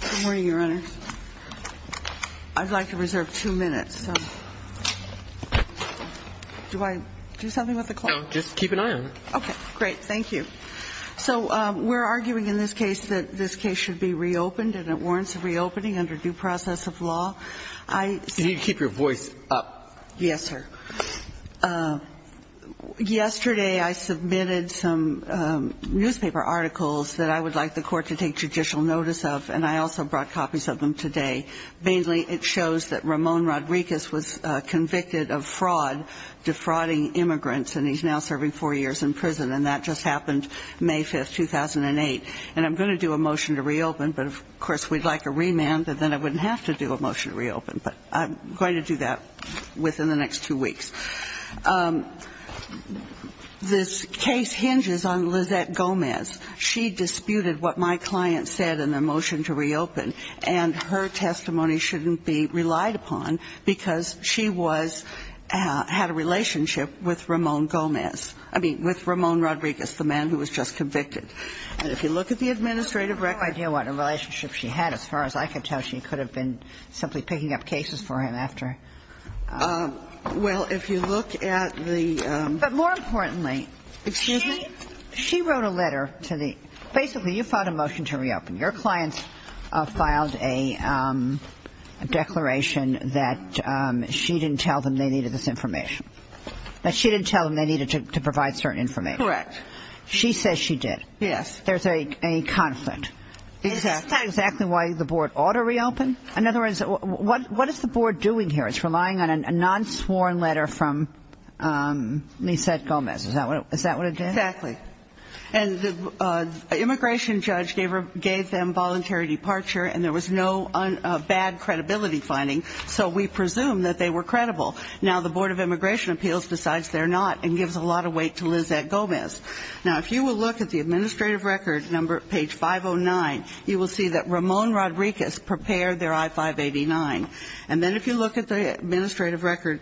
Good morning, Your Honors. I'd like to reserve two minutes. Do I do something with the clock? No, just keep an eye on it. Okay, great. Thank you. So we're arguing in this case that this case should be reopened and it warrants a reopening under due process of law. You need to keep your voice up. Yes, sir. Yesterday, I submitted some newspaper articles that I would like the court to take judicial notice of, and I also brought copies of them today. Mainly, it shows that Ramon Rodriguez was convicted of fraud, defrauding immigrants, and he's now serving four years in prison, and that just happened May 5, 2008. And I'm going to do a motion to reopen, but of course, we'd like a remand, and then I wouldn't have to do a motion to reopen. But I'm going to do that within the next two weeks. This case hinges on Lizette Gomez. She disputed what my client said in the motion to reopen, and her testimony shouldn't be relied upon because she was – had a relationship with Ramon Gomez – I mean, with Ramon Rodriguez, the man who was just convicted. And if you look at the administrative record – Well, if you look at the – But more importantly – Excuse me? She wrote a letter to the – basically, you filed a motion to reopen. Your client filed a declaration that she didn't tell them they needed this information, that she didn't tell them they needed to provide certain information. Correct. She says she did. Yes. There's a conflict. Exactly. Is that exactly why the board ought to reopen? In other words, what is the board doing here? It's relying on a non-sworn letter from Lizette Gomez. Is that what it did? Exactly. And the immigration judge gave them voluntary departure, and there was no bad credibility finding, so we presume that they were credible. Now, the Board of Immigration Appeals decides they're not and gives a lot of weight to Lizette Gomez. Now, if you will look at the administrative record, page 509, you will see that Ramon Rodriguez prepared their I-589. And then if you look at the administrative record,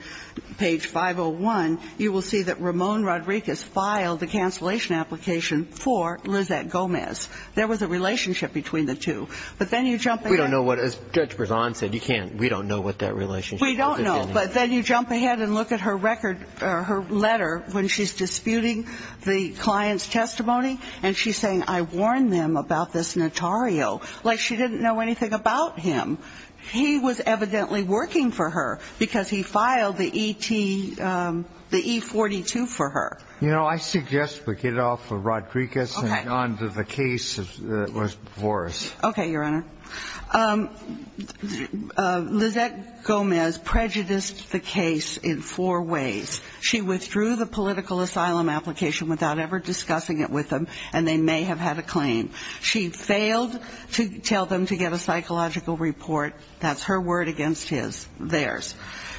page 501, you will see that Ramon Rodriguez filed the cancellation application for Lizette Gomez. There was a relationship between the two. But then you jump ahead – We don't know what – as Judge Berzon said, you can't – we don't know what that relationship is. I don't know. But then you jump ahead and look at her record or her letter when she's disputing the client's testimony, and she's saying, I warned them about this notario. Like she didn't know anything about him. He was evidently working for her because he filed the E-42 for her. You know, I suggest we get off of Rodriguez and on to the case that was before us. Okay, Your Honor. Lizette Gomez prejudiced the case in four ways. She withdrew the political asylum application without ever discussing it with them, and they may have had a claim. She failed to tell them to get a psychological report. That's her word against his, theirs.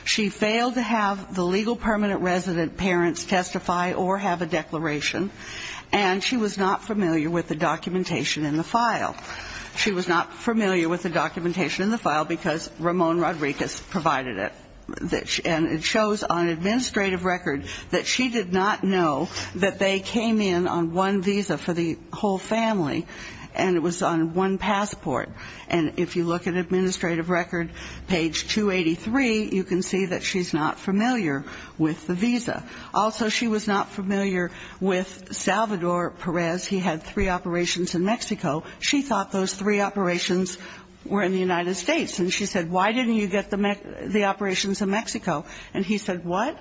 She failed to have the legal permanent resident parents testify or have a declaration. And she was not familiar with the documentation in the file. She was not familiar with the documentation in the file because Ramon Rodriguez provided it. And it shows on administrative record that she did not know that they came in on one visa for the whole family, and it was on one passport. And if you look at administrative record, page 283, you can see that she's not familiar with the visa. Also, she was not familiar with Salvador Perez. He had three operations in Mexico. She thought those three operations were in the United States. And she said, why didn't you get the operations in Mexico? And he said, what?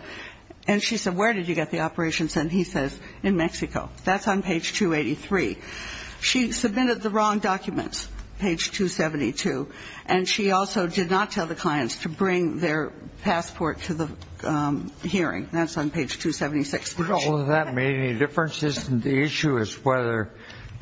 And she said, where did you get the operations? And he says, in Mexico. That's on page 283. She submitted the wrong documents, page 272. And she also did not tell the clients to bring their passport to the hearing. That's on page 276. Did all of that make any difference? The issue is whether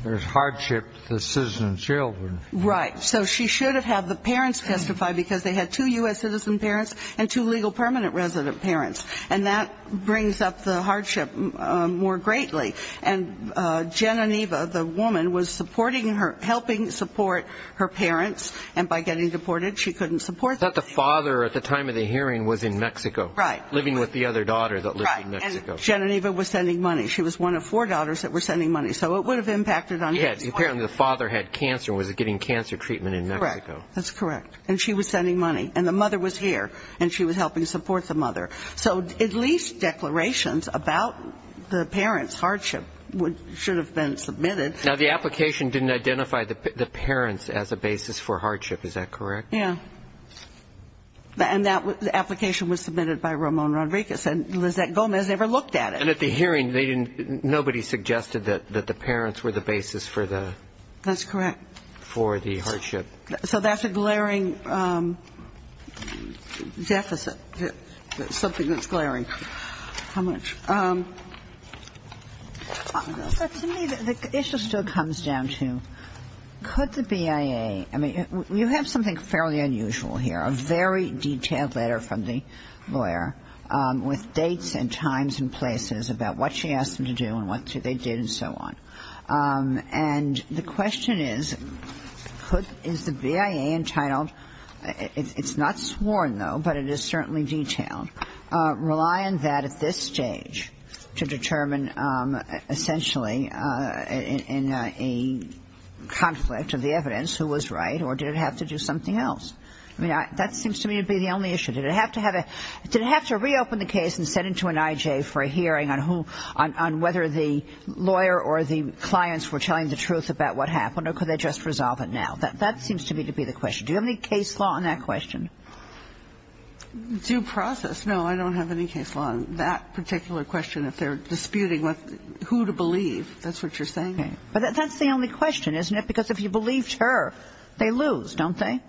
there's hardship to the citizen's children. Right. So she should have had the parents testify because they had two U.S. citizen parents and two legal permanent resident parents. And that brings up the hardship more greatly. And Geniniva, the woman, was supporting her, helping support her parents. And by getting deported, she couldn't support them. The father at the time of the hearing was in Mexico. Right. Living with the other daughter that lived in Mexico. And Geniniva was sending money. She was one of four daughters that were sending money. So it would have impacted on her. Yeah. Apparently the father had cancer and was getting cancer treatment in Mexico. Correct. That's correct. And she was sending money. And the mother was here. And she was helping support the mother. So at least declarations about the parents' hardship should have been submitted. Now, the application didn't identify the parents as a basis for hardship. Is that correct? Yeah. And the application was submitted by Ramon Rodriguez. And Lizette Gomez never looked at it. And at the hearing, nobody suggested that the parents were the basis for the hardship. That's correct. So that's a glaring deficit, something that's glaring. How much? To me, the issue still comes down to, could the BIA, I mean, you have something fairly unusual here, a very detailed letter from the lawyer with dates and times and places about what she asked them to do and what they did and so on. And the question is, is the BIA entitled, it's not sworn, though, but it is certainly detailed, rely on that at this stage to determine essentially in a conflict of the evidence who was right or did it have to do something else? I mean, that seems to me to be the only issue. Did it have to have a – did it have to reopen the case and send it to an IJ for a hearing on who – on whether the lawyer or the clients were telling the truth about what happened or could they just resolve it now? That seems to me to be the question. Do you have any case law on that question? Due process? No, I don't have any case law on that particular question. If they're disputing who to believe, that's what you're saying. Okay. But that's the only question, isn't it? Because if you believed her, they lose, don't they?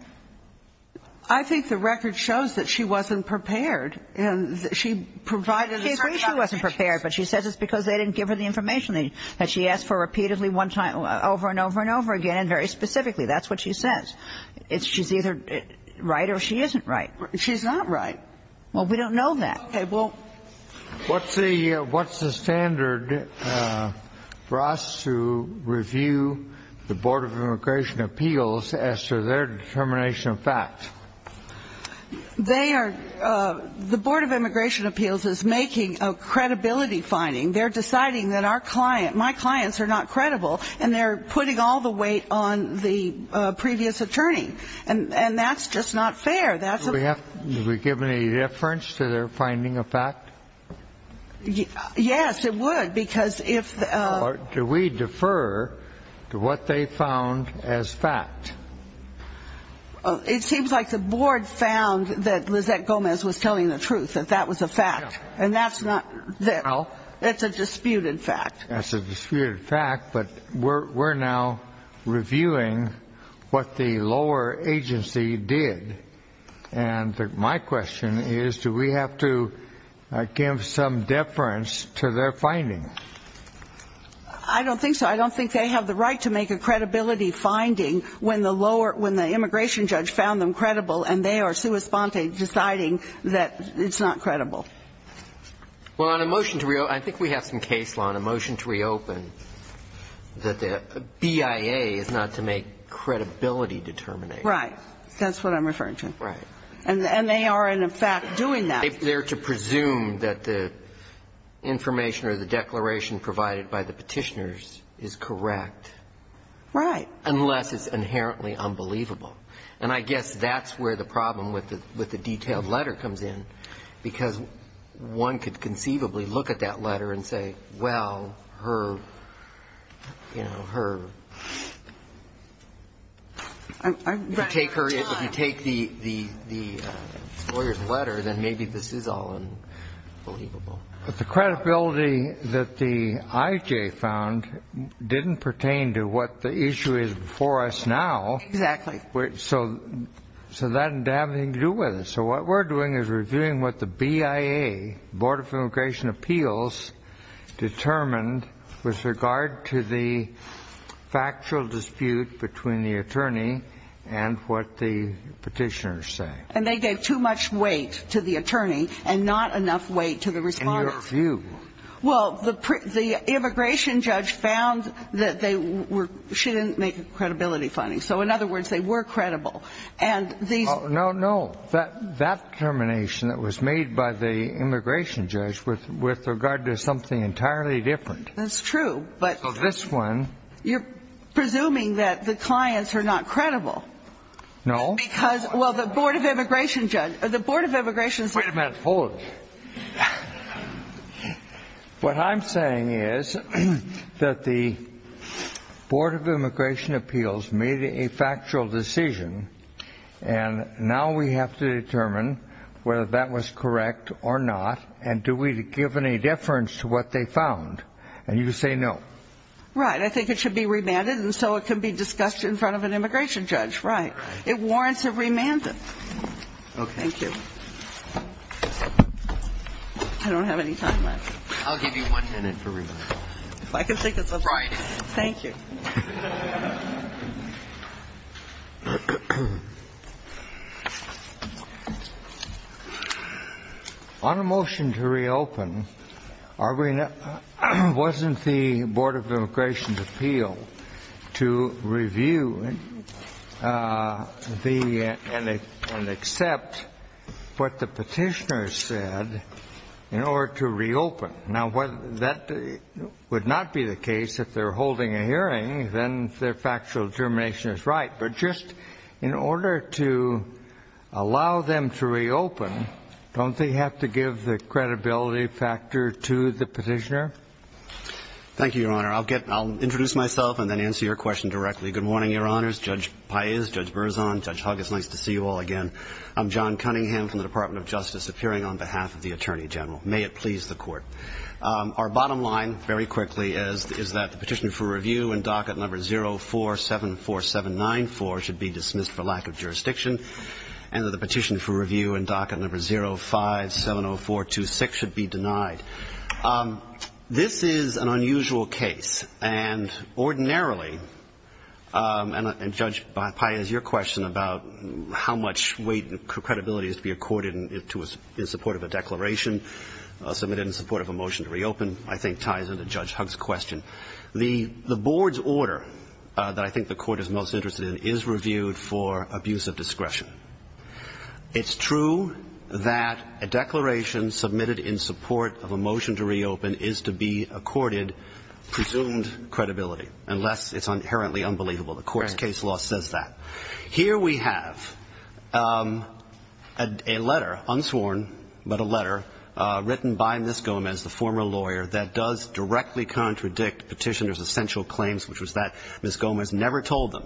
I think the record shows that she wasn't prepared and that she provided a certain amount of cases. She agrees she wasn't prepared, but she says it's because they didn't give her the information that she asked for repeatedly one time over and over and over again and very specifically. That's what she says. She's either right or she isn't right. She's not right. Well, we don't know that. What's the standard for us to review the Board of Immigration Appeals as to their determination of facts? They are – the Board of Immigration Appeals is making a credibility finding. They're deciding that our client – my clients are not credible and they're putting all the weight on the previous attorney. And that's just not fair. Do we give any reference to their finding of fact? Yes, it would because if – Or do we defer to what they found as fact? It seems like the Board found that Lizette Gomez was telling the truth, that that was a fact. And that's not – it's a disputed fact. That's a disputed fact, but we're now reviewing what the lower agency did. And my question is, do we have to give some deference to their finding? I don't think so. I don't think they have the right to make a credibility finding when the lower – when the immigration judge found them credible and they are sui sponte deciding that it's not credible. Well, on a motion to – I think we have some case law on a motion to reopen that the BIA is not to make credibility determinations. Right. That's what I'm referring to. Right. And they are, in effect, doing that. They're to presume that the information or the declaration provided by the petitioners is correct. Right. Unless it's inherently unbelievable. And I guess that's where the problem with the detailed letter comes in because one could conceivably look at that letter and say, well, her, you know, her. If you take her – if you take the lawyer's letter, then maybe this is all unbelievable. But the credibility that the IJ found didn't pertain to what the issue is before us now. Exactly. So that didn't have anything to do with it. So what we're doing is reviewing what the BIA, Board of Immigration Appeals, determined with regard to the factual dispute between the attorney and what the petitioners say. And they gave too much weight to the attorney and not enough weight to the respondent. In your view. Well, the immigration judge found that they were – she didn't make credibility findings. So in other words, they were credible. And these – No, no. That determination that was made by the immigration judge with regard to something entirely different. That's true. So this one – You're presuming that the clients are not credible. No. Because, well, the Board of Immigration – the Board of Immigration – Wait a minute. Hold it. What I'm saying is that the Board of Immigration Appeals made a factual decision and now we have to determine whether that was correct or not and do we give any deference to what they found. And you say no. Right. I think it should be remanded and so it can be discussed in front of an immigration judge. Right. It warrants a remand. Okay. Thank you. I don't have any time left. I'll give you one minute for remand. Friday. Thank you. On a motion to reopen, wasn't the Board of Immigration's appeal to review the – and accept what the petitioner said in order to reopen? Now, that would not be the case if they're holding a hearing. Then their factual determination is right. But just in order to allow them to reopen, don't they have to give the credibility factor to the petitioner? Thank you, Your Honor. I'll introduce myself and then answer your question directly. Good morning, Your Honors. Judge Paez, Judge Berzon, Judge Huggis, nice to see you all again. I'm John Cunningham from the Department of Justice appearing on behalf of the Attorney General. May it please the Court. Our bottom line, very quickly, is that the petition for review in docket number 0474794 should be dismissed for lack of jurisdiction and that the petition for review in docket number 0570426 should be denied. This is an unusual case. And ordinarily – and, Judge Paez, your question about how much weight and credibility is to be accorded in support of a declaration submitted in support of a motion to reopen, I think ties into Judge Hugg's question. The Board's order that I think the Court is most interested in is reviewed for abuse of discretion. It's true that a declaration submitted in support of a motion to reopen is to be accorded presumed credibility, unless it's inherently unbelievable. The Court's case law says that. Here we have a letter, unsworn, but a letter written by Ms. Gomez, the former lawyer, that does directly contradict Petitioner's essential claims, which was that Ms. Gomez never told them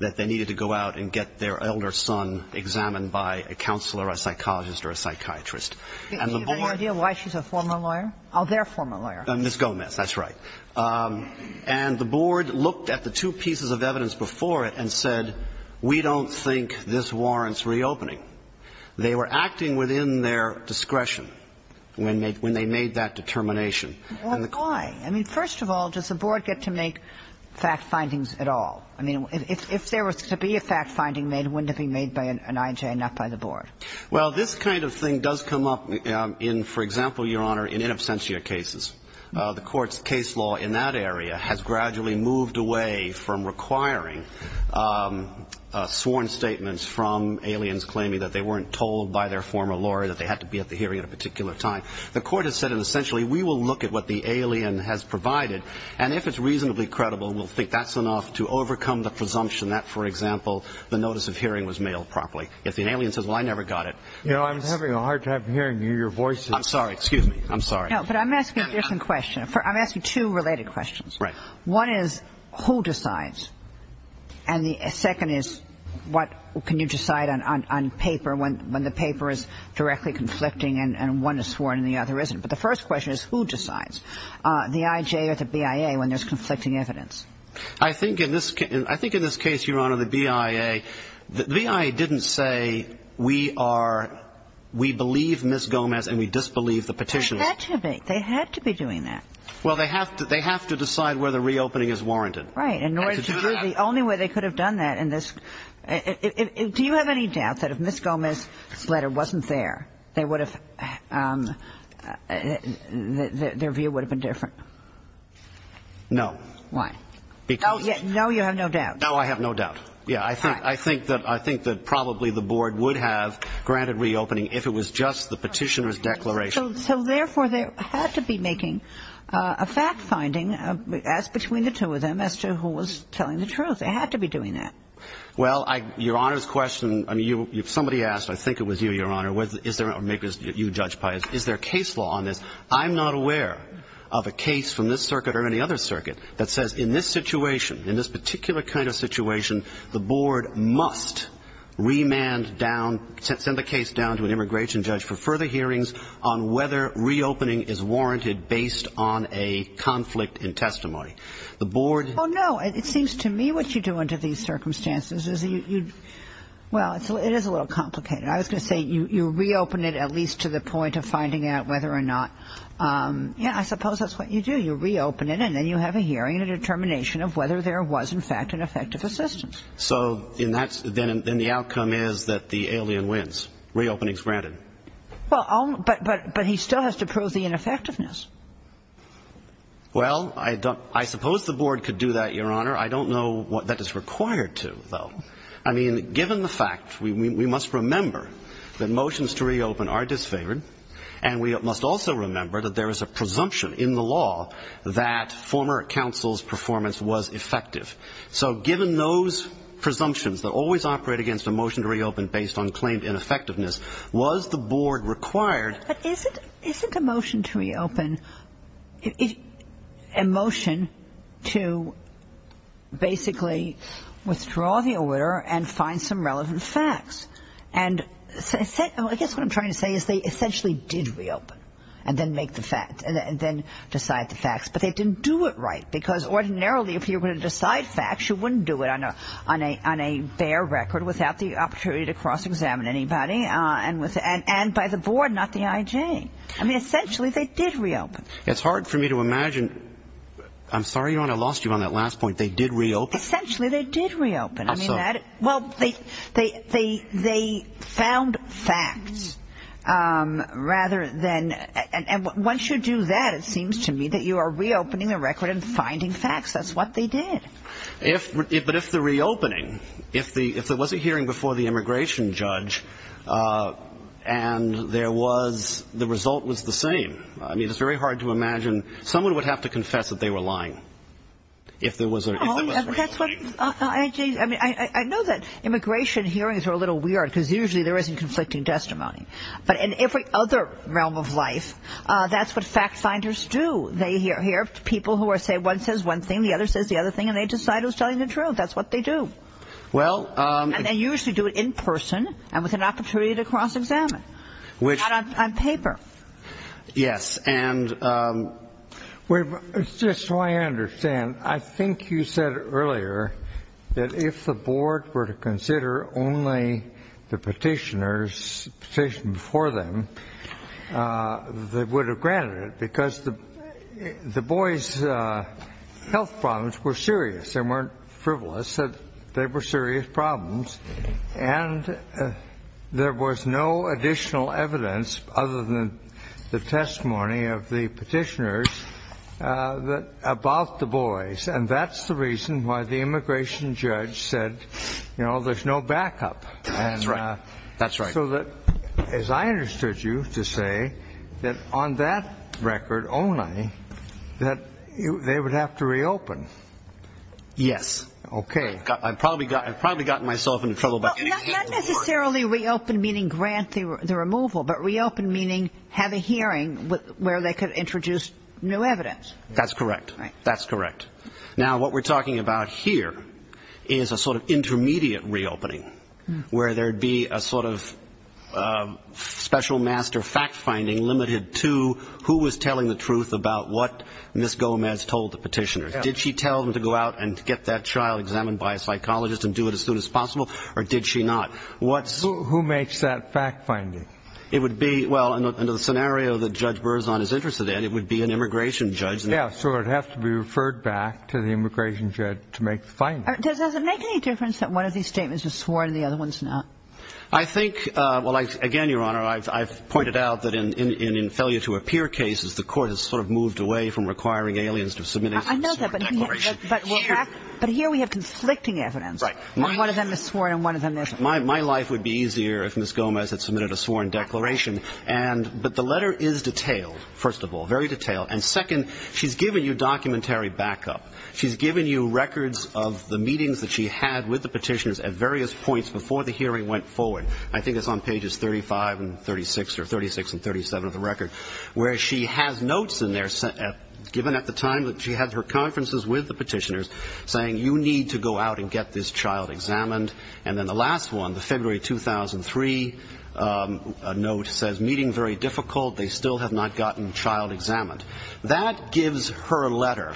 that they needed to go out and get their elder son examined by a counselor, a psychologist, or a psychiatrist. And the Board – Do you have any idea why she's a former lawyer? Oh, their former lawyer. Ms. Gomez, that's right. And the Board looked at the two pieces of evidence before it and said, we don't think this warrants reopening. They were acting within their discretion when they made that determination. Well, why? I mean, first of all, does the Board get to make fact findings at all? I mean, if there was to be a fact finding made, wouldn't it be made by an IJ and not by the Board? Well, this kind of thing does come up in, for example, Your Honor, in in absentia cases. The Court's case law in that area has gradually moved away from requiring sworn statements from aliens claiming that they weren't told by their former lawyer that they had to be at the hearing at a particular time. The Court has said, essentially, we will look at what the alien has provided, and if it's reasonably credible, we'll think that's enough to overcome the presumption that, for example, the notice of hearing was mailed properly. If the alien says, well, I never got it. You know, I'm having a hard time hearing your voice. I'm sorry. No, but I'm asking a different question. I'm asking two related questions. Right. One is, who decides? And the second is, what can you decide on paper when the paper is directly conflicting and one is sworn and the other isn't? But the first question is, who decides, the IJ or the BIA when there's conflicting evidence? I think in this case, Your Honor, the BIA, the BIA didn't say we are we believe Ms. Gomez and we disbelieve the petitions. They had to be. They had to be doing that. Well, they have to decide whether reopening is warranted. Right. In order to do that. The only way they could have done that in this do you have any doubt that if Ms. Gomez's letter wasn't there, they would have their view would have been different? No. Why? Because. No, you have no doubt. No, I have no doubt. Yeah, I think that I think that probably the board would have granted reopening if it was just the petitioner's declaration. So therefore, they had to be making a fact-finding as between the two of them as to who was telling the truth. They had to be doing that. Well, Your Honor's question, I mean, if somebody asked, I think it was you, Your Honor, is there, or maybe it was you, Judge Pius, is there case law on this? I'm not aware of a case from this circuit or any other circuit that says in this situation, in this particular kind of situation, the board must remand down, send the case down to an immigration judge for further hearings on whether reopening is warranted based on a conflict in testimony. The board. Oh, no. It seems to me what you do under these circumstances is you, well, it is a little complicated. I was going to say you reopen it at least to the point of finding out whether or not yeah, I suppose that's what you do. You reopen it and then you have a hearing and a determination of whether there was, in fact, an effective assistance. So then the outcome is that the alien wins. Reopening is granted. Well, but he still has to prove the ineffectiveness. Well, I suppose the board could do that, Your Honor. I don't know that it's required to, though. I mean, given the fact, we must remember that motions to reopen are disfavored, and we must also remember that there is a presumption in the law that former counsel's performance was effective. So given those presumptions that always operate against a motion to reopen based on claimed ineffectiveness, was the board required. But isn't a motion to reopen a motion to basically withdraw the order and find some relevant facts? I guess what I'm trying to say is they essentially did reopen and then make the facts and then decide the facts, but they didn't do it right because ordinarily if you were going to decide facts, you wouldn't do it on a bare record without the opportunity to cross-examine anybody and by the board, not the IJ. I mean, essentially they did reopen. It's hard for me to imagine. I'm sorry, Your Honor, I lost you on that last point. They did reopen. Essentially they did reopen. I'm sorry. Well, they found facts rather than – and once you do that, it seems to me that you are reopening the record and finding facts. That's what they did. But if the reopening, if there was a hearing before the immigration judge and there was – the result was the same. I mean, it's very hard to imagine. I know that immigration hearings are a little weird because usually there isn't conflicting testimony. But in every other realm of life, that's what fact-finders do. They hear people who say one says one thing, the other says the other thing, and they decide who's telling the truth. That's what they do. And they usually do it in person and with an opportunity to cross-examine, not on paper. Yes. Well, it's just so I understand. I think you said earlier that if the board were to consider only the petitioners before them, they would have granted it because the boys' health problems were serious. They weren't frivolous. They were serious problems. And there was no additional evidence other than the testimony of the petitioners about the boys. And that's the reason why the immigration judge said, you know, there's no backup. That's right. That's right. So that, as I understood you to say, that on that record only that they would have to reopen. Yes. Okay. I've probably gotten myself in trouble. Not necessarily reopen meaning grant the removal, but reopen meaning have a hearing where they could introduce new evidence. That's correct. That's correct. Now, what we're talking about here is a sort of intermediate reopening where there would be a sort of special master fact-finding limited to who was telling the truth about what Ms. Gomez told the petitioners. Did she tell them to go out and get that child examined by a psychologist and do it as soon as possible, or did she not? Who makes that fact-finding? It would be, well, under the scenario that Judge Berzon is interested in, it would be an immigration judge. Yeah. So it would have to be referred back to the immigration judge to make the finding. Does it make any difference that one of these statements is sworn and the other one's not? I think, well, again, Your Honor, I've pointed out that in failure to appear cases, the court has sort of moved away from requiring aliens to submit a sworn declaration. But here we have conflicting evidence. Right. One of them is sworn and one of them isn't. My life would be easier if Ms. Gomez had submitted a sworn declaration. But the letter is detailed, first of all, very detailed. And second, she's given you documentary backup. She's given you records of the meetings that she had with the petitioners at various points before the hearing went forward. I think it's on pages 35 and 36, or 36 and 37 of the record, where she has notes in there given at the time that she had her conferences with the petitioners saying, you need to go out and get this child examined. And then the last one, the February 2003 note says, meeting very difficult. They still have not gotten child examined. That gives her letter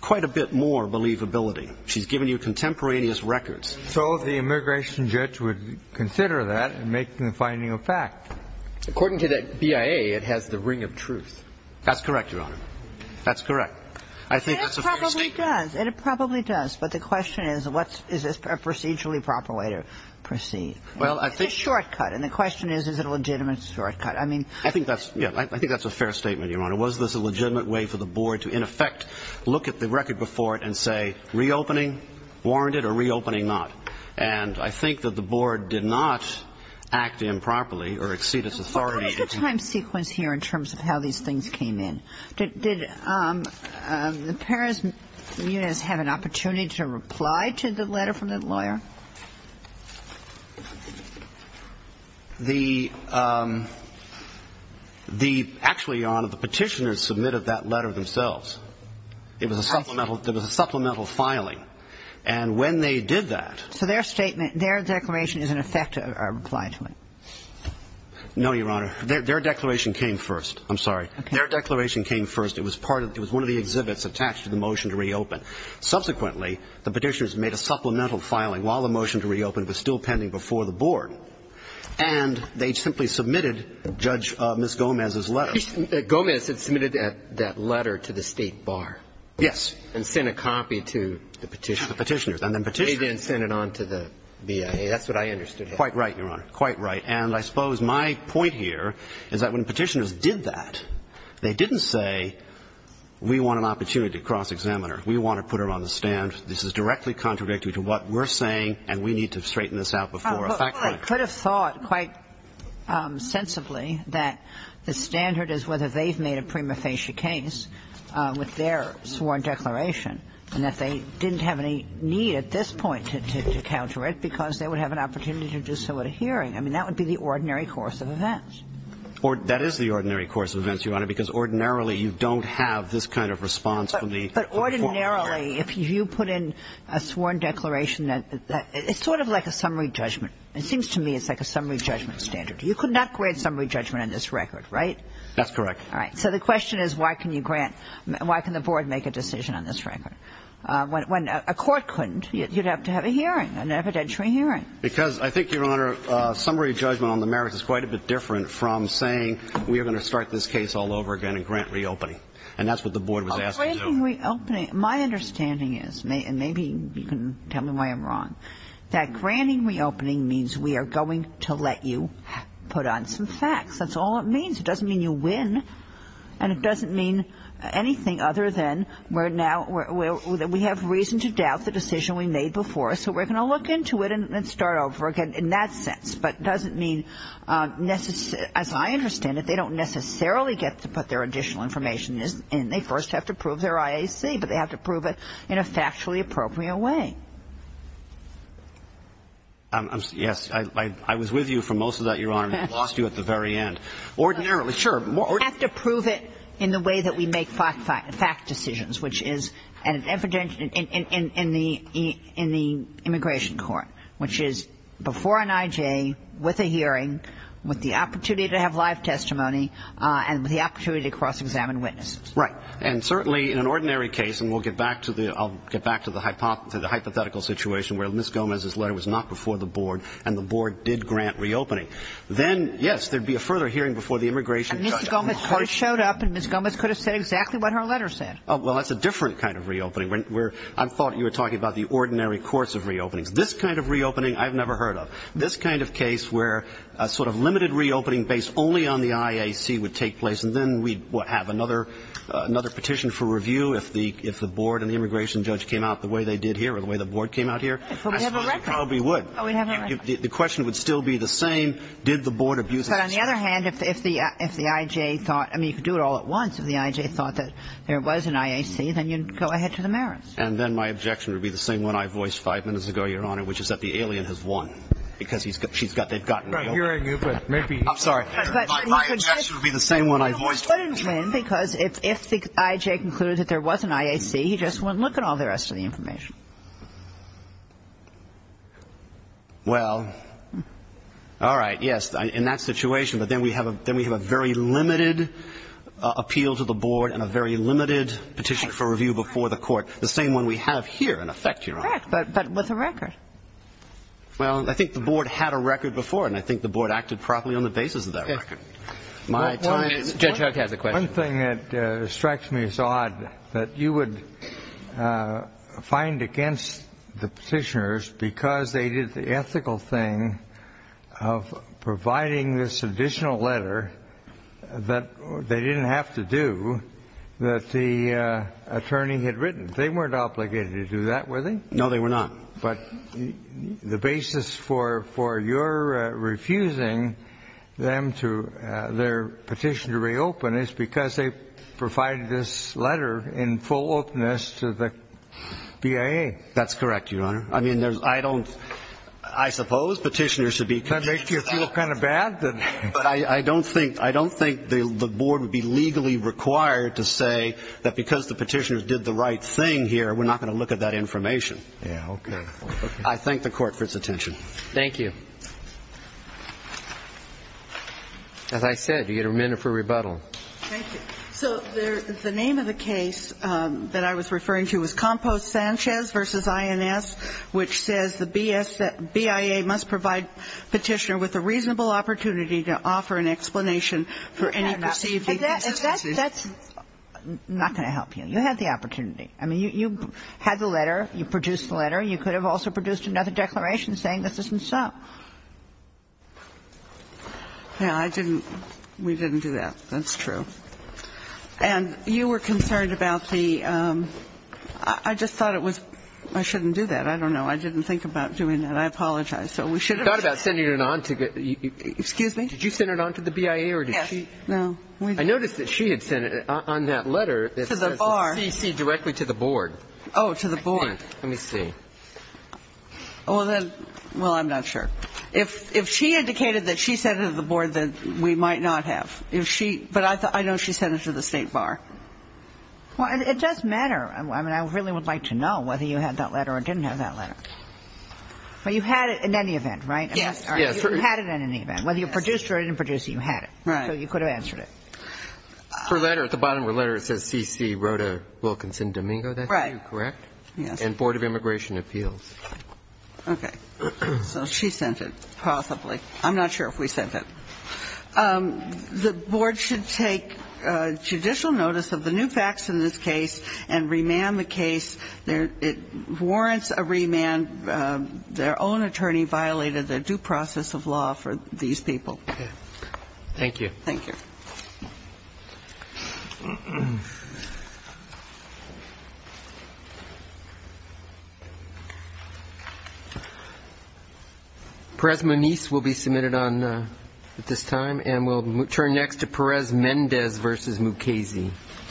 quite a bit more believability. She's given you contemporaneous records. So the immigration judge would consider that and make the finding a fact. According to the BIA, it has the ring of truth. That's correct, Your Honor. That's correct. I think that's a fair statement. And it probably does. But the question is, is this a procedurally proper way to proceed? It's a shortcut. And the question is, is it a legitimate shortcut? I think that's a fair statement, Your Honor. Was this a legitimate way for the board to, in effect, look at the record before it and say, reopening, warranted, or reopening not? And I think that the board did not act improperly or exceed its authority. What is the time sequence here in terms of how these things came in? Did the parents' units have an opportunity to reply to the letter from the lawyer? The actually, Your Honor, the petitioners submitted that letter themselves. It was a supplemental filing. And when they did that. So their statement, their declaration is, in effect, a reply to it? No, Your Honor. Their declaration came first. I'm sorry. Their declaration came first. It was one of the exhibits attached to the motion to reopen. Subsequently, the petitioners made a supplemental filing while the motion to reopen was still pending before the board. And they simply submitted Judge Ms. Gomez's letter. Gomez had submitted that letter to the State Bar. Yes. And sent a copy to the petitioners. Petitioners. And then petitioners. They then sent it on to the BIA. That's what I understood. Quite right, Your Honor. Quite right. And I suppose my point here is that when petitioners did that, they didn't say, we want an opportunity to cross-examine her. We want to put her on the stand. This is directly contradictory to what we're saying, and we need to straighten this out before effect. Well, I could have thought quite sensibly that the standard is whether they've made a prima facie case with their sworn declaration and that they didn't have any need at this point to counter it because they would have an opportunity to do so at a hearing. I mean, that would be the ordinary course of events. That is the ordinary course of events, Your Honor, because ordinarily you don't have this kind of response from the court. But ordinarily, if you put in a sworn declaration, it's sort of like a summary judgment. It seems to me it's like a summary judgment standard. You could not grade summary judgment on this record, right? That's correct. All right. So the question is, why can you grant ñ why can the board make a decision on this record? When a court couldn't, you'd have to have a hearing, an evidentiary hearing. Because I think, Your Honor, summary judgment on the merits is quite a bit different from saying we are going to start this case all over again and grant reopening. And that's what the board was asking to do. A granting reopening, my understanding is, and maybe you can tell me why I'm wrong, that granting reopening means we are going to let you put on some facts. That's all it means. It doesn't mean you win. And it doesn't mean anything other than we're now ñ we have reason to doubt the decision we made before. So we're going to look into it and start over again in that sense. But it doesn't mean ñ as I understand it, they don't necessarily get to put their additional information in. They first have to prove their IAC, but they have to prove it in a factually appropriate way. Yes. I was with you for most of that, Your Honor, and I lost you at the very end. Ordinarily, sure. We have to prove it in the way that we make fact decisions, which is evident in the immigration court, which is before an I.J., with a hearing, with the opportunity to have live testimony, and with the opportunity to cross-examine witnesses. Right. And certainly in an ordinary case, and we'll get back to the ñ I'll get back to the hypothetical situation where Ms. Gomez's letter was not before the board and the board did grant reopening. Then, yes, there'd be a further hearing before the immigration judge. And Mr. Gomez could have showed up and Ms. Gomez could have said exactly what her letter said. Well, that's a different kind of reopening. We're ñ I thought you were talking about the ordinary course of reopenings. This kind of reopening I've never heard of. This kind of case where a sort of limited reopening based only on the IAC would take place, and then we'd have another ñ another petition for review if the ñ if the board and the immigration judge came out the way they did here or the way the board came out here. So we'd have a record. Probably would. Oh, we'd have a record. The question would still be the same. Did the board abuse ñ But on the other hand, if the ñ if the I.J. thought ñ I mean, you could do it all at once. If the I.J. thought that there was an IAC, then you'd go ahead to the merits. And then my objection would be the same one I voiced five minutes ago, Your Honor, which is that the alien has won, because he's ñ she's got ñ they've gotten ñ Right. Hearing you, but maybe ñ I'm sorry. My objection would be the same one I voiced five minutes ago. But it wouldn't win, because if the I.J. concluded that there was an IAC, he just wouldn't look at all the rest of the information. Well, all right. Yes. In that situation. But then we have a ñ then we have a very limited appeal to the board and a very limited petition for review before the court. The same one we have here, in effect, Your Honor. Correct. But with a record. Well, I think the board had a record before. And I think the board acted properly on the basis of that record. My time is ñ Judge Huck has a question. One thing that strikes me as odd, that you would find against the petitioners, because they did the ethical thing of providing this additional letter that they didn't have to do, that the attorney had written. They weren't obligated to do that, were they? No, they were not. But the basis for your refusing them to ñ their petition to reopen is because they provided this letter in full openness to the BIA. That's correct, Your Honor. I mean, there's ñ I don't ñ I suppose petitioners should be ñ Does that make you feel kind of bad? I don't think ñ I don't think the board would be legally required to say that because the petitioners did the right thing here, we're not going to look at that information. Yeah, okay. I thank the Court for its attention. Thank you. As I said, you get a minute for rebuttal. Thank you. So the name of the case that I was referring to was Compost-Sanchez v. INS, which says the BIA must provide petitioner with a reasonable opportunity to offer an explanation for any perceived ñ That's not going to help you. You had the opportunity. I mean, you had the letter. You produced the letter. You could have also produced another declaration saying this isn't so. Yeah, I didn't ñ we didn't do that. That's true. And you were concerned about the ñ I just thought it was ñ I shouldn't do that. I don't know. I didn't think about doing that. I apologize. So we should have ñ You thought about sending it on to ñ Excuse me? Did you send it on to the BIA or did she ñ Yes. No. I noticed that she had sent it on that letter. To the bar. To CC directly to the board. Oh, to the board. Let me see. Well, then ñ well, I'm not sure. If she indicated that she sent it to the board, then we might not have. If she ñ but I know she sent it to the State Bar. Well, it does matter. I mean, I really would like to know whether you had that letter or didn't have that letter. But you had it in any event, right? Yes. Yes. You had it in any event. Whether you produced it or didn't produce it, you had it. Right. So you could have answered it. Her letter, at the bottom of her letter, it says CC, Rhoda Wilkinson Domingo. That's you, correct? Right. Yes. And Board of Immigration Appeals. Okay. So she sent it, possibly. I'm not sure if we sent it. The board should take judicial notice of the new facts in this case and remand the case. It warrants a remand. Their own attorney violated the due process of law for these people. Okay. Thank you. Thank you. Thank you. Perez Menece will be submitted on this time. And we'll turn next to Perez Mendez v. Mukasey. Thank you.